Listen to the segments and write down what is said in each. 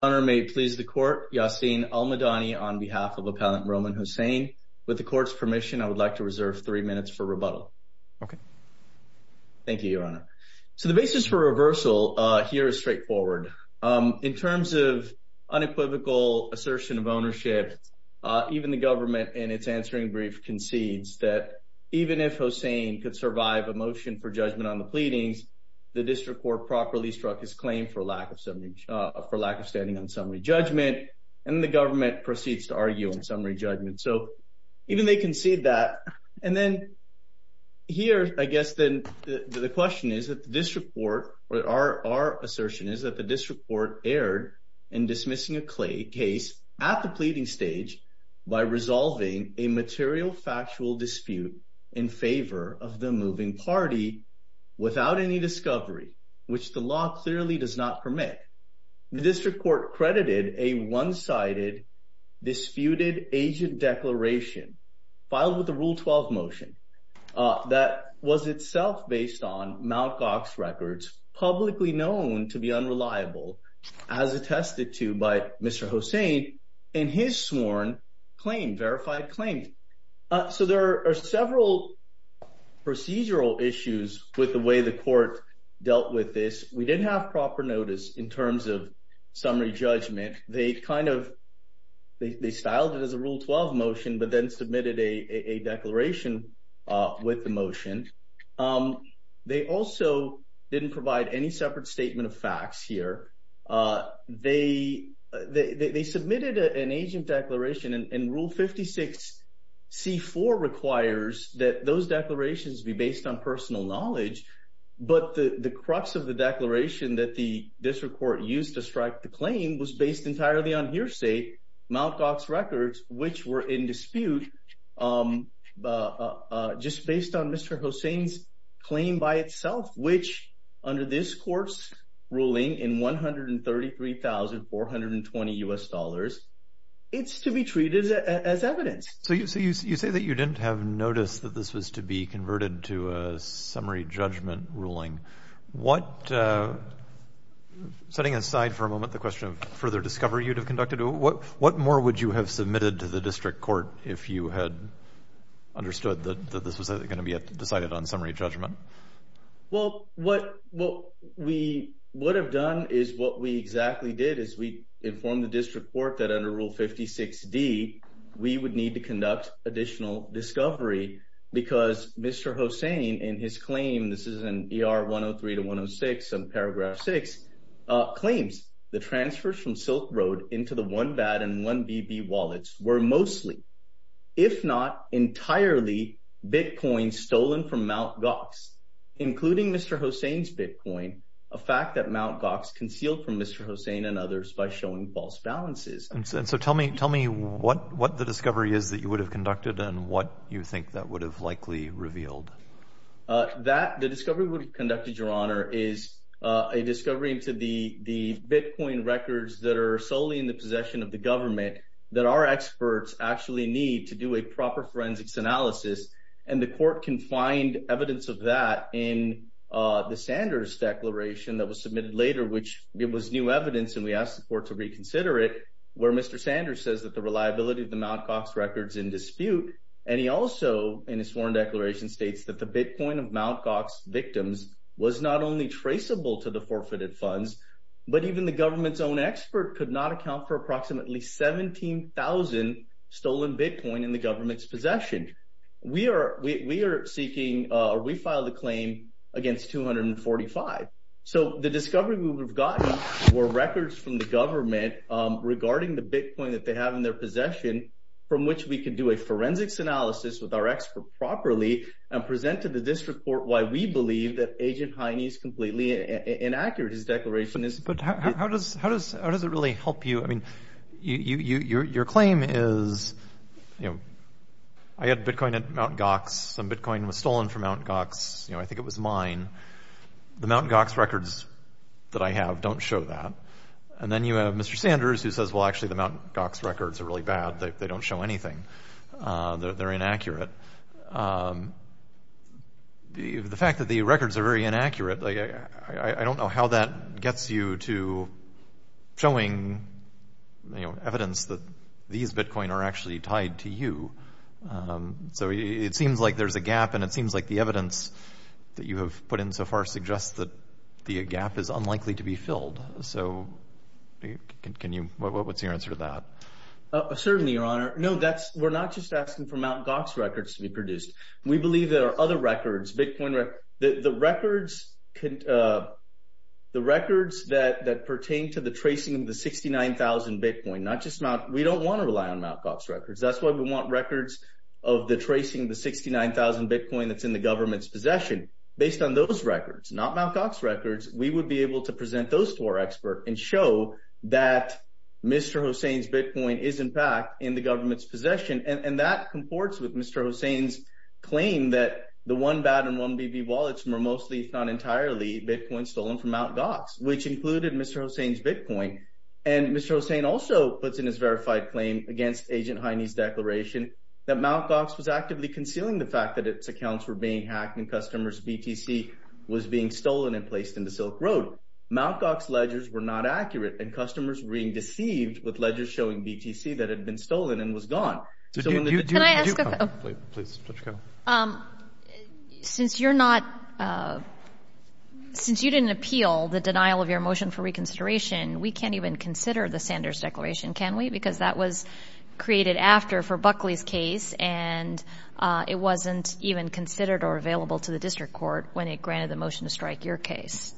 Honor may it please the court, Yassin Almodany on behalf of Appellant Roman Hossain. With the court's permission, I would like to reserve three minutes for rebuttal. Okay. Thank you, Your Honor. So the basis for reversal here is straightforward. In terms of unequivocal assertion of ownership, even the government in its answering brief concedes that even if Hossain could survive a motion for judgment on the pleadings, the court is arguing on summary judgment, and the government proceeds to argue on summary judgment. So even they concede that. And then here, I guess, then the question is that the district court or our assertion is that the district court erred in dismissing a case at the pleading stage by resolving a material factual dispute in favor of the moving party without any discovery, which the law clearly does not permit. The district court credited a one-sided disputed agent declaration filed with the Rule 12 motion that was itself based on Mt. Gox records, publicly known to be unreliable, as attested to by Mr. Hossain in his sworn claim, verified claim. So there are several procedural issues with the way the court dealt with this. We didn't have proper notice in terms of summary judgment. They kind of, they styled it as a Rule 12 motion, but then submitted a declaration with the motion. They also didn't provide any separate statement of facts here. They submitted an agent declaration, and Rule 56C4 requires that those declarations be based on personal knowledge. But the crux of the declaration that the district court used to strike the claim was based entirely on hearsay, Mt. Gox records, which were in dispute just based on Mr. Hossain's claim by itself, which under this court's ruling in $133,420, it's to be treated as evidence. So you say that you didn't have notice that this was to be converted to a summary judgment ruling. What, setting aside for a moment the question of further discovery you'd have conducted, what more would you have submitted to the district court if you had understood that this was going to be decided on summary judgment? Well, what we would have done is what we exactly did, is we informed the district court that under Rule 56D, we would need to conduct additional discovery because Mr. Hossain, in his claim, this is in ER 103 to 106 in paragraph six, claims the transfers from Silk Road into the OneBad and OneBB wallets were mostly, if not entirely, Bitcoin stolen from Mt. Gox, including Mr. Hossain's Bitcoin, a fact that Mt. Gox concealed from Mr. Hossain and others by showing false balances. And so tell me what the discovery is that you would have conducted and what you think that would have likely revealed. The discovery we would have conducted, Your Honor, is a discovery to the Bitcoin records that are solely in the possession of the government that our experts actually need to do a proper forensics analysis. And the court can find evidence of that in the Sanders declaration that was submitted later, which it was new evidence and we asked the court to reconsider it, where Mr. Sanders says that the reliability of the Mt. Gox records in dispute. And he also, in his sworn declaration, states that the Bitcoin of Mt. Gox victims was not only traceable to the forfeited funds, but even the government's own expert could not account for approximately 17,000 stolen Bitcoin in the government's possession. We are seeking or we filed a claim against 245. So the discovery we would have gotten were records from the government regarding the Bitcoin that they have in their possession, from which we could do a forensics analysis with our expert properly and present to the district court why we believe that Agent Hiney is completely inaccurate, his declaration is. But how does it really help you? Your claim is, I had Bitcoin at Mt. Gox, some Bitcoin was stolen from Mt. Gox, I think it was mine. The Mt. Gox records that I have don't show that. And then you have Mr. Sanders who says, well, actually, the Mt. Gox records are really bad, they don't show anything, they're inaccurate. The fact that the records are very inaccurate, I don't know how that gets you to showing evidence that these Bitcoin are actually tied to you. So it seems like there's a gap, and it seems like the evidence that you have put in so far suggests that the gap is unlikely to be filled. So what's your answer to that? Certainly, Your Honor, no, we're not just asking for Mt. Gox records to be produced. We believe there are other records, Bitcoin records, the records that pertain to the tracing of the 69,000 Bitcoin, we don't want to rely on Mt. Gox records. That's why we want records of the tracing of the 69,000 Bitcoin that's in the government's possession. Based on those records, not Mt. Gox records, we would be able to present those to our expert and show that Mr. Hossain's Bitcoin is, in fact, in the government's possession. And that comports with Mr. Hossain's claim that the 1BAT and 1BB wallets were mostly, if not entirely, Bitcoin stolen from Mt. Gox, which included Mr. Hossain's Bitcoin. And Mr. Hossain also puts in his verified claim against Agent Hiney's declaration that Mt. Gox was actively concealing the fact that its accounts were being hacked and customers' BTC was being stolen and placed into Silk Road. Mt. Gox ledgers were not accurate, and customers were being deceived with ledgers showing BTC that had been stolen and was gone. So when the- Can I ask- Please, Dr. Carroll. Um, since you're not, uh, since you didn't appeal the denial of your motion for reconsideration, we can't even consider the Sanders declaration, can we? Because that was created after, for Buckley's case, and, uh, it wasn't even considered or available to the district court when it granted the motion to strike your case.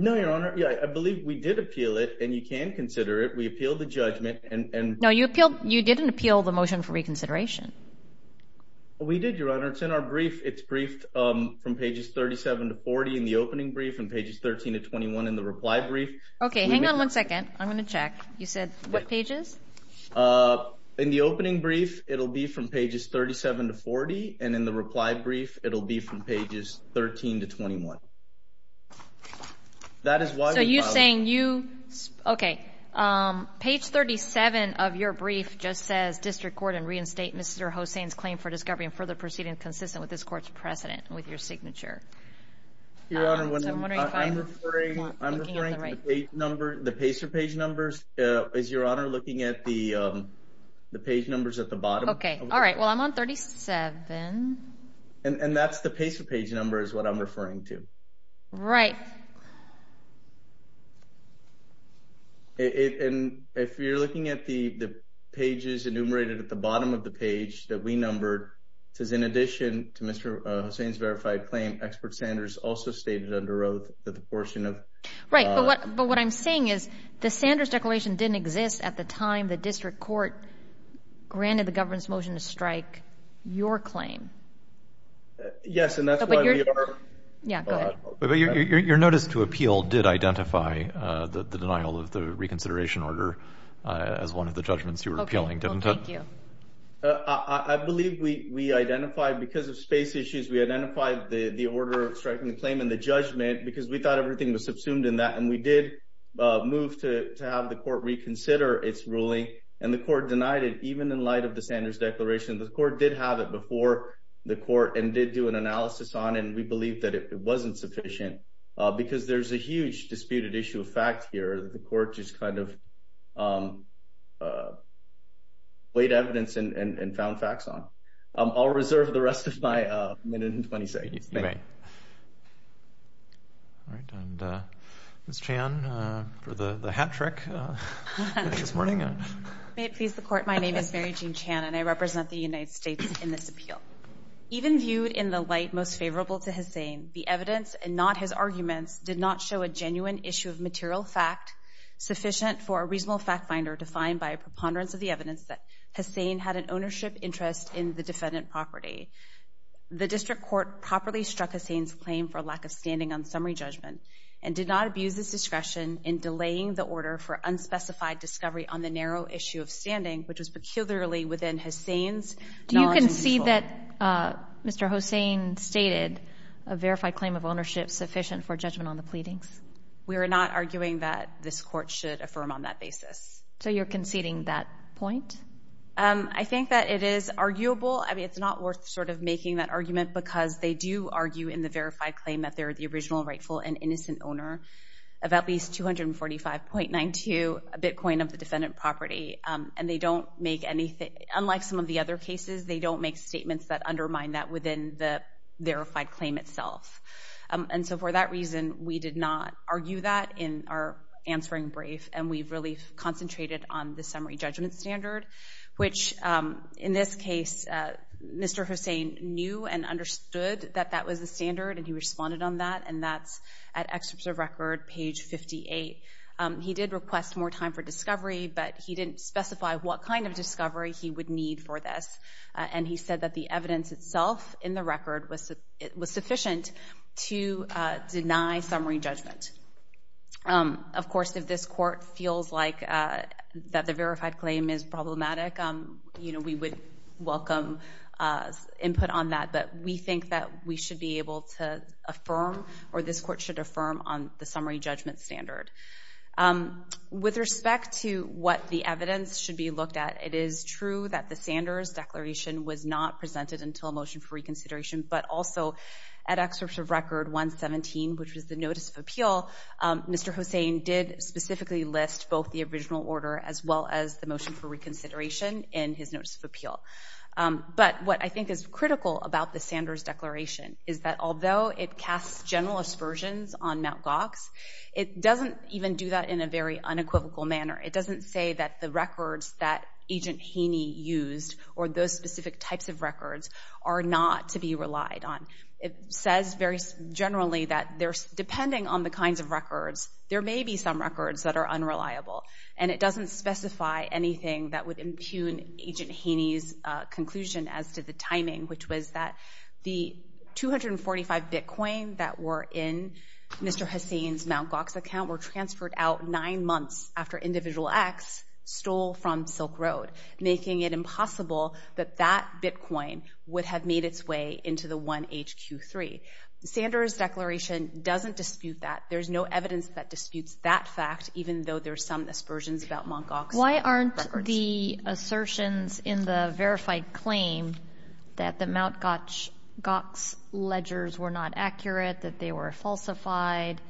No, Your Honor. Yeah, I believe we did appeal it, and you can consider it. We appealed the judgment, and- No, you appealed- you didn't appeal the motion for reconsideration. We did, Your Honor. It's in our brief. It's briefed, um, from pages 37 to 40 in the opening brief and pages 13 to 21 in the reply brief. Okay, hang on one second. I'm going to check. You said what pages? Uh, in the opening brief, it'll be from pages 37 to 40, and in the reply brief, it'll be from pages 13 to 21. That is why- So you're saying you- okay. Um, page 37 of your brief just says, District Court, in reinstate Mr. Hossain's claim for discovery and further proceedings consistent with this court's precedent with your signature. Your Honor, what I'm- So I'm wondering if I'm- I'm referring to the page number- the pacer page numbers. Uh, is Your Honor looking at the, um, the page numbers at the bottom? Okay, all right. Well, I'm on 37. And that's the pacer page number is what I'm referring to. Right. And if you're looking at the pages enumerated at the bottom of the page that we numbered, it says in addition to Mr. Hossain's verified claim, expert Sanders also stated under oath that the portion of- Right, but what I'm saying is the Sanders declaration didn't exist at the time the district court granted the government's motion to strike your claim. Yes, and that's why we are- Yeah, go ahead. Your notice to appeal did identify the denial of the reconsideration order as one of the judgments you were appealing, didn't it? I believe we identified because of space issues, we identified the order of striking the claim in the judgment because we thought everything was subsumed in that and we did move to have the court reconsider its ruling and the court denied it even in light of the Sanders declaration. The court did have it before the court and did do an analysis on it and we believed that it wasn't sufficient because there's a huge disputed issue of fact here that the court just kind of weighed evidence and found facts on. I'll reserve the rest of my minute and 20 seconds. You may. All right, and Ms. Chan for the hat trick this morning. May it please the court, my name is Mary Jean Chan and I represent the United States in this appeal. Even viewed in the light most favorable to Hussain, the evidence and not his arguments did not show a genuine issue of material fact sufficient for a reasonable fact finder defined by a preponderance of the evidence that Hussain had an ownership interest in the defendant property. The district court properly struck Hussain's claim for lack of standing on summary judgment and did not abuse his discretion in delaying the order for unspecified discovery on the narrow issue of standing which was peculiarly within Hussain's knowledge and control. Do you think that Mr. Hussain stated a verified claim of ownership sufficient for judgment on the pleadings? We are not arguing that this court should affirm on that basis. So you're conceding that point? I think that it is arguable. I mean, it's not worth sort of making that argument because they do argue in the verified claim that they're the original rightful and innocent owner of at least 245.92 bitcoin of the defendant property. And they don't make anything, unlike some of the other cases, they don't make statements that undermine that within the verified claim itself. And so for that reason, we did not argue that in our answering brief and we've really concentrated on the summary judgment standard, which in this case, Mr. Hussain knew and understood that that was the standard and he responded on that and that's at excerpt of record page 58. He did request more time for discovery, but he didn't specify what kind of discovery he would need for this. And he said that the evidence itself in the record was sufficient to deny summary judgment. Of course, if this court feels like that the verified claim is problematic, we would welcome input on that, but we think that we should be able to affirm or this court should affirm on the summary judgment standard. With respect to what the evidence should be looked at, it is true that the Sanders declaration was not presented until a motion for reconsideration, but also at excerpt of record 117, which was the notice of appeal, Mr. Hussain did specifically list both the original order as well as the motion for reconsideration in his notice of appeal. But what I think is critical about the Sanders declaration is that although it casts general aspersions on Mt. Gox, it doesn't even do that in a very unequivocal manner. It doesn't say that the records that Agent Haney used or those specific types of records are not to be relied on. It says very generally that depending on the kinds of records, there may be some records that are unreliable. And it doesn't specify anything that would impugn Agent Haney's conclusion as to the timing, which was that the 245 bitcoin that were in Mr. Hussain's Mt. Gox account were transferred out nine months after Individual X stole from Silk Road, making it impossible that that bitcoin would have made its way into the 1HQ3. Sanders' declaration doesn't dispute that. There's no evidence that disputes that fact, even though there's some aspersions about Mt. Gox records. Why aren't the assertions in the verified claim that the Mt. Gox ledgers were not accurate, that they were falsified,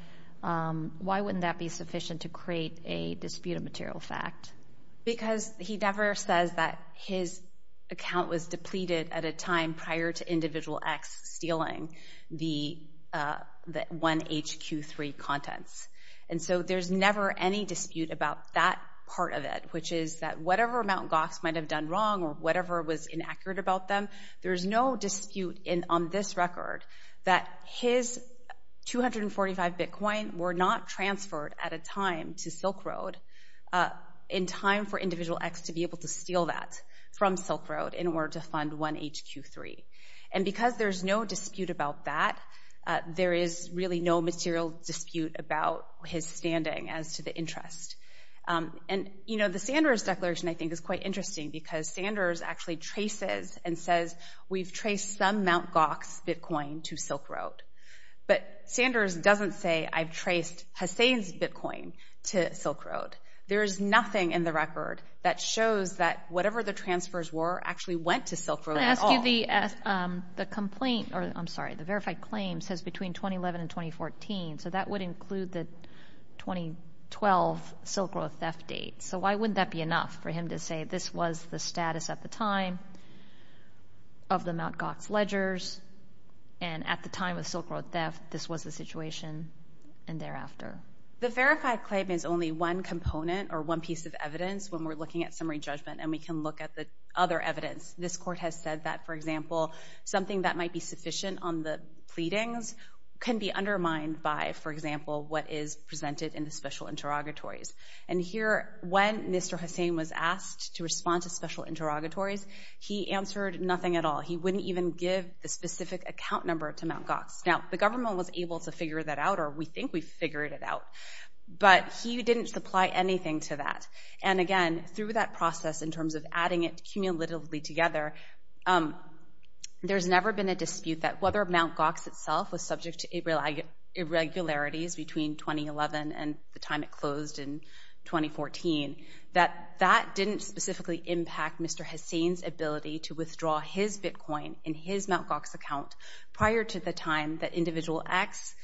why wouldn't that be sufficient to create a dispute of material fact? Because he never says that his account was depleted at a time prior to Individual X stealing the 1HQ3 contents. And so there's never any dispute about that part of it, which is that whatever Mt. Gox might have done wrong or whatever was inaccurate about them, there's no dispute on this record that his 245 bitcoin were not transferred at a time to Silk Road in time for Individual X to be able to steal that from Silk Road in order to fund 1HQ3. And because there's no dispute about that, there is really no material dispute about his standing as to the interest. And the Sanders declaration, I think, is quite interesting because Sanders actually traces and says, we've traced some Mt. Gox bitcoin to Silk Road. But Sanders doesn't say, I've traced Hussein's bitcoin to Silk Road. There is nothing in the record that shows that whatever the transfers were actually went to Silk Road at all. I'm sorry, the verified claim says between 2011 and 2014, so that would include the 2012 Silk Road theft date. So why wouldn't that be enough for him to say this was the status at the time? Of the Mt. Gox ledgers, and at the time of Silk Road theft, this was the situation, and thereafter. The verified claim is only one component or one piece of evidence when we're looking at summary judgment, and we can look at the other evidence. This court has said that, for example, something that might be sufficient on the pleadings can be undermined by, for example, what is presented in the special interrogatories. And here, when Mr. Hussein was asked to respond to special interrogatories, he answered nothing at all. He wouldn't even give the specific account number to Mt. Gox. Now, the government was able to figure that out, or we think we figured it out, but he didn't supply anything to that. And again, through that process, in terms of adding it cumulatively together, there's never been a dispute that whether Mt. Gox itself was subject to irregularities between 2011 and the time it closed in 2014, that that didn't specifically impact Mr. Hussein's ability to withdraw his bitcoin in his Mt. Gox account prior to the time that Individual X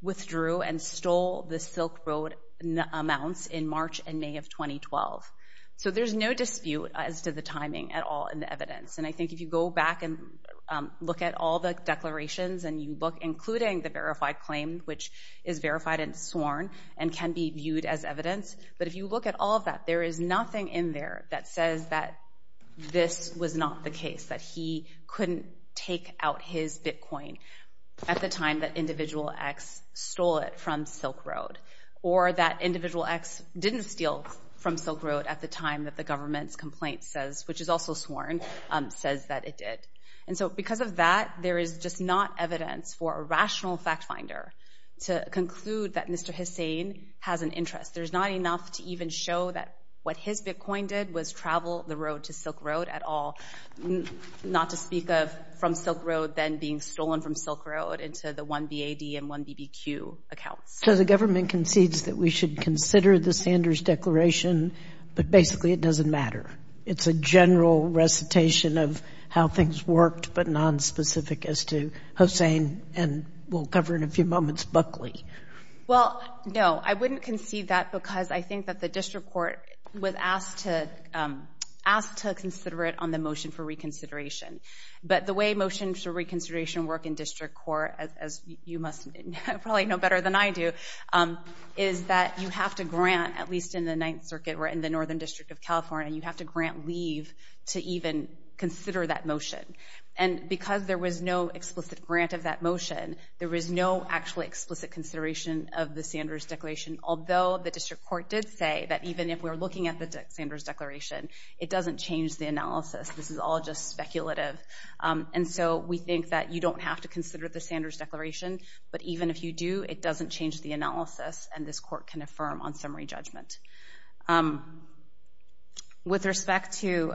withdrew and stole the Silk Road amounts in March and May of 2012. So there's no dispute as to the timing at all in the evidence. And I think if you go back and look at all the declarations, including the verified claim, which is verified and sworn and can be viewed as evidence, but if you look at all of that, there is nothing in there that says that this was not the case, that he couldn't take out his bitcoin at the time that Individual X stole it from Silk Road, or that Individual X didn't steal from Silk Road at the time that the government's complaint says, which is also sworn, says that it did. And so because of that, there is just not evidence for a rational fact finder to conclude that Mr. Hussein has an interest. There's not enough to even show that what his bitcoin did was travel the road to Silk Road at all, not to speak of from Silk Road then being stolen from Silk Road into the 1BAD and 1BBQ accounts. So the government concedes that we should consider the Sanders declaration, but basically it doesn't matter. It's a general recitation of how things worked, but nonspecific as to Hussein and we'll cover in a few moments Buckley. Well, no. I wouldn't concede that because I think that the district court was asked to consider it on the motion for reconsideration. But the way motions for reconsideration work in district court, as you probably know better than I do, is that you have to grant, at least in the Ninth Circuit or in the Northern District of California, you have to grant leave to even consider that motion. And because there was no explicit grant of that motion, there was no actually explicit consideration of the Sanders declaration, although the district court did say that even if we're looking at the Sanders declaration, it doesn't change the analysis. This is all just speculative. And so we think that you don't have to consider the Sanders declaration, but even if you do, it doesn't change the analysis and this court can affirm on summary judgment. With respect to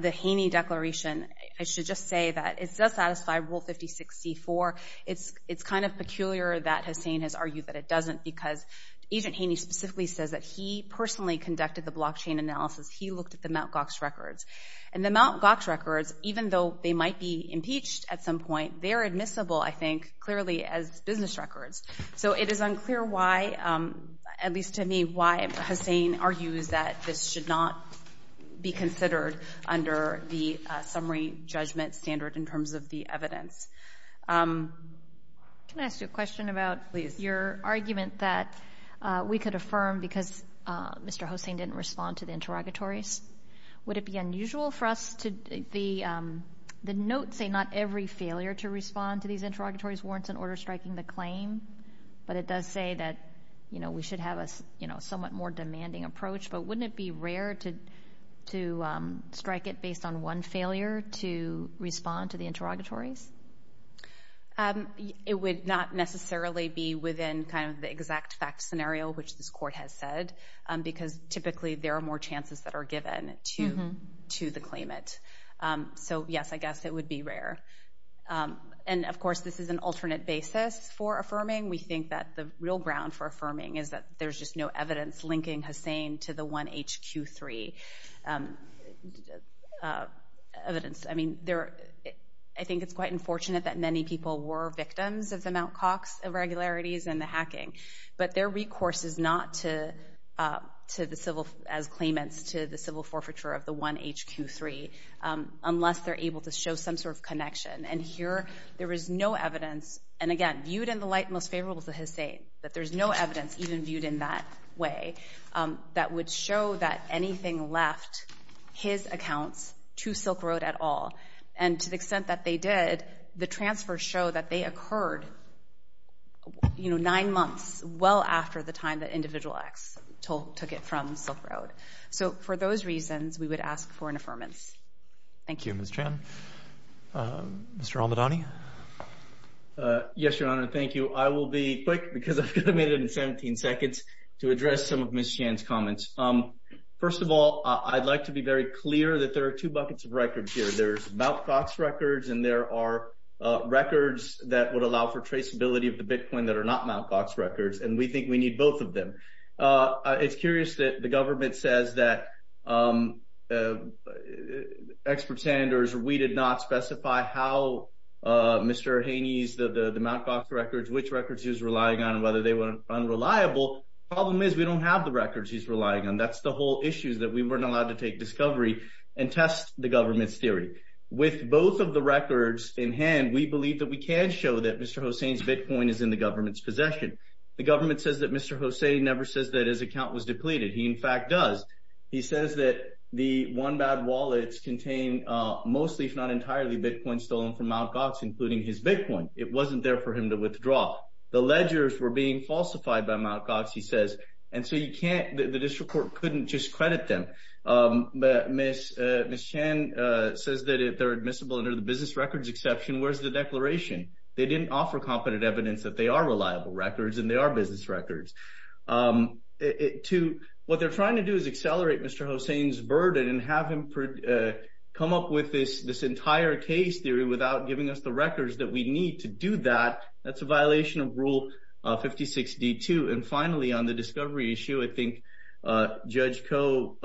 the Haney declaration, I should just say that it does satisfy Rule 5064. It's kind of peculiar that Hussain has argued that it doesn't because Agent Haney specifically says that he personally conducted the blockchain analysis. He looked at the Mt. Gox records. And the Mt. Gox records, even though they might be impeached at some point, they're admissible, I think, clearly as business records. So it is unclear why, at least to me, why Hussain argues that this should not be considered under the summary judgment standard in terms of the evidence. Can I ask you a question about your argument that we could affirm because Mr. Hussain didn't respond to the interrogatories? Would it be unusual for us to... The notes say not every failure to respond to these interrogatories warrants an order striking the claim, but it does say that we should have a somewhat more demanding approach. But wouldn't it be rare to strike it based on one failure to respond to the interrogatories? It would not necessarily be within the exact fact scenario which this court has said because typically there are more chances that are given to the claimant. So yes, I guess it would be rare. And of course, this is an alternate basis for affirming. We think that the real ground for affirming is that there's just no evidence of the 1HQ3. I think it's quite unfortunate that many people were victims of the Mt. Cox irregularities and the hacking. But their recourse is not as claimants to the civil forfeiture of the 1HQ3 unless they're able to show some sort of connection. And here, there is no evidence and again, viewed in the light most favorable to Hussain that there's no evidence even viewed in that way that would show that anything left his accounts to Silk Road at all. And to the extent that they did, the transfers show that they occurred nine months well after the time that Individual X took it from Silk Road. So for those reasons, we would ask for an affirmance. Thank you. Ms. Chan. Mr. Almadani? Yes, Your Honor. Thank you. I will be quick because I've got to make it in 17 seconds to address some of Ms. Chan's comments. First of all, I'd like to be very clear that there are two buckets of records here. There's Mt. Cox records and there are records that would allow for traceability of the Bitcoin that are not Mt. Cox records. And we think we need both of them. It's curious that the government says that experts and we did not specify how Mr. Haney's the Mt. Cox records, which records he was unreliable. The problem is we don't have the records he's relying on. That's the whole issues that we weren't allowed to take discovery and test the government's theory. With both of the records in hand, we believe that we can show that Mr. Hosein's Bitcoin is in the government's possession. The government says that Mr. Hosein never says that his account was depleted. He, in fact, does. He says that the OneBad wallets contain mostly, if not entirely, Bitcoin stolen from Mt. Cox, including his Bitcoin. It wasn't there for him to withdraw. The ledgers were being falsified by Mt. Cox, he says. The district court couldn't just credit them. Ms. Chan says that they're admissible under the business records exception. Where's the declaration? They didn't offer competent evidence that they are reliable records and they are business records. What they're trying to do is accelerate Mr. Hosein's burden and have him come up with this entire case theory without giving us the records that we need to do that. That's a violation of Rule 56D2. And finally, on the discovery issue, I think Judge Koh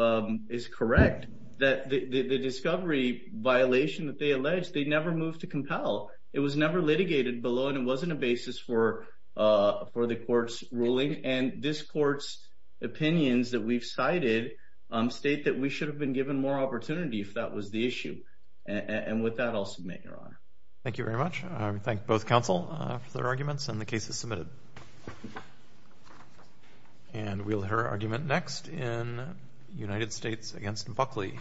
is correct. The discovery violation that they alleged, they never moved to compel. It was never litigated below and it wasn't a basis for the court's ruling. And this court's opinions that we've cited more opportunity if that was the issue. And with that, I'll submit, Your Honor. Thank you very much. I thank both counsel for their arguments and the cases submitted. And we'll hear her argument next in United States against Buckley.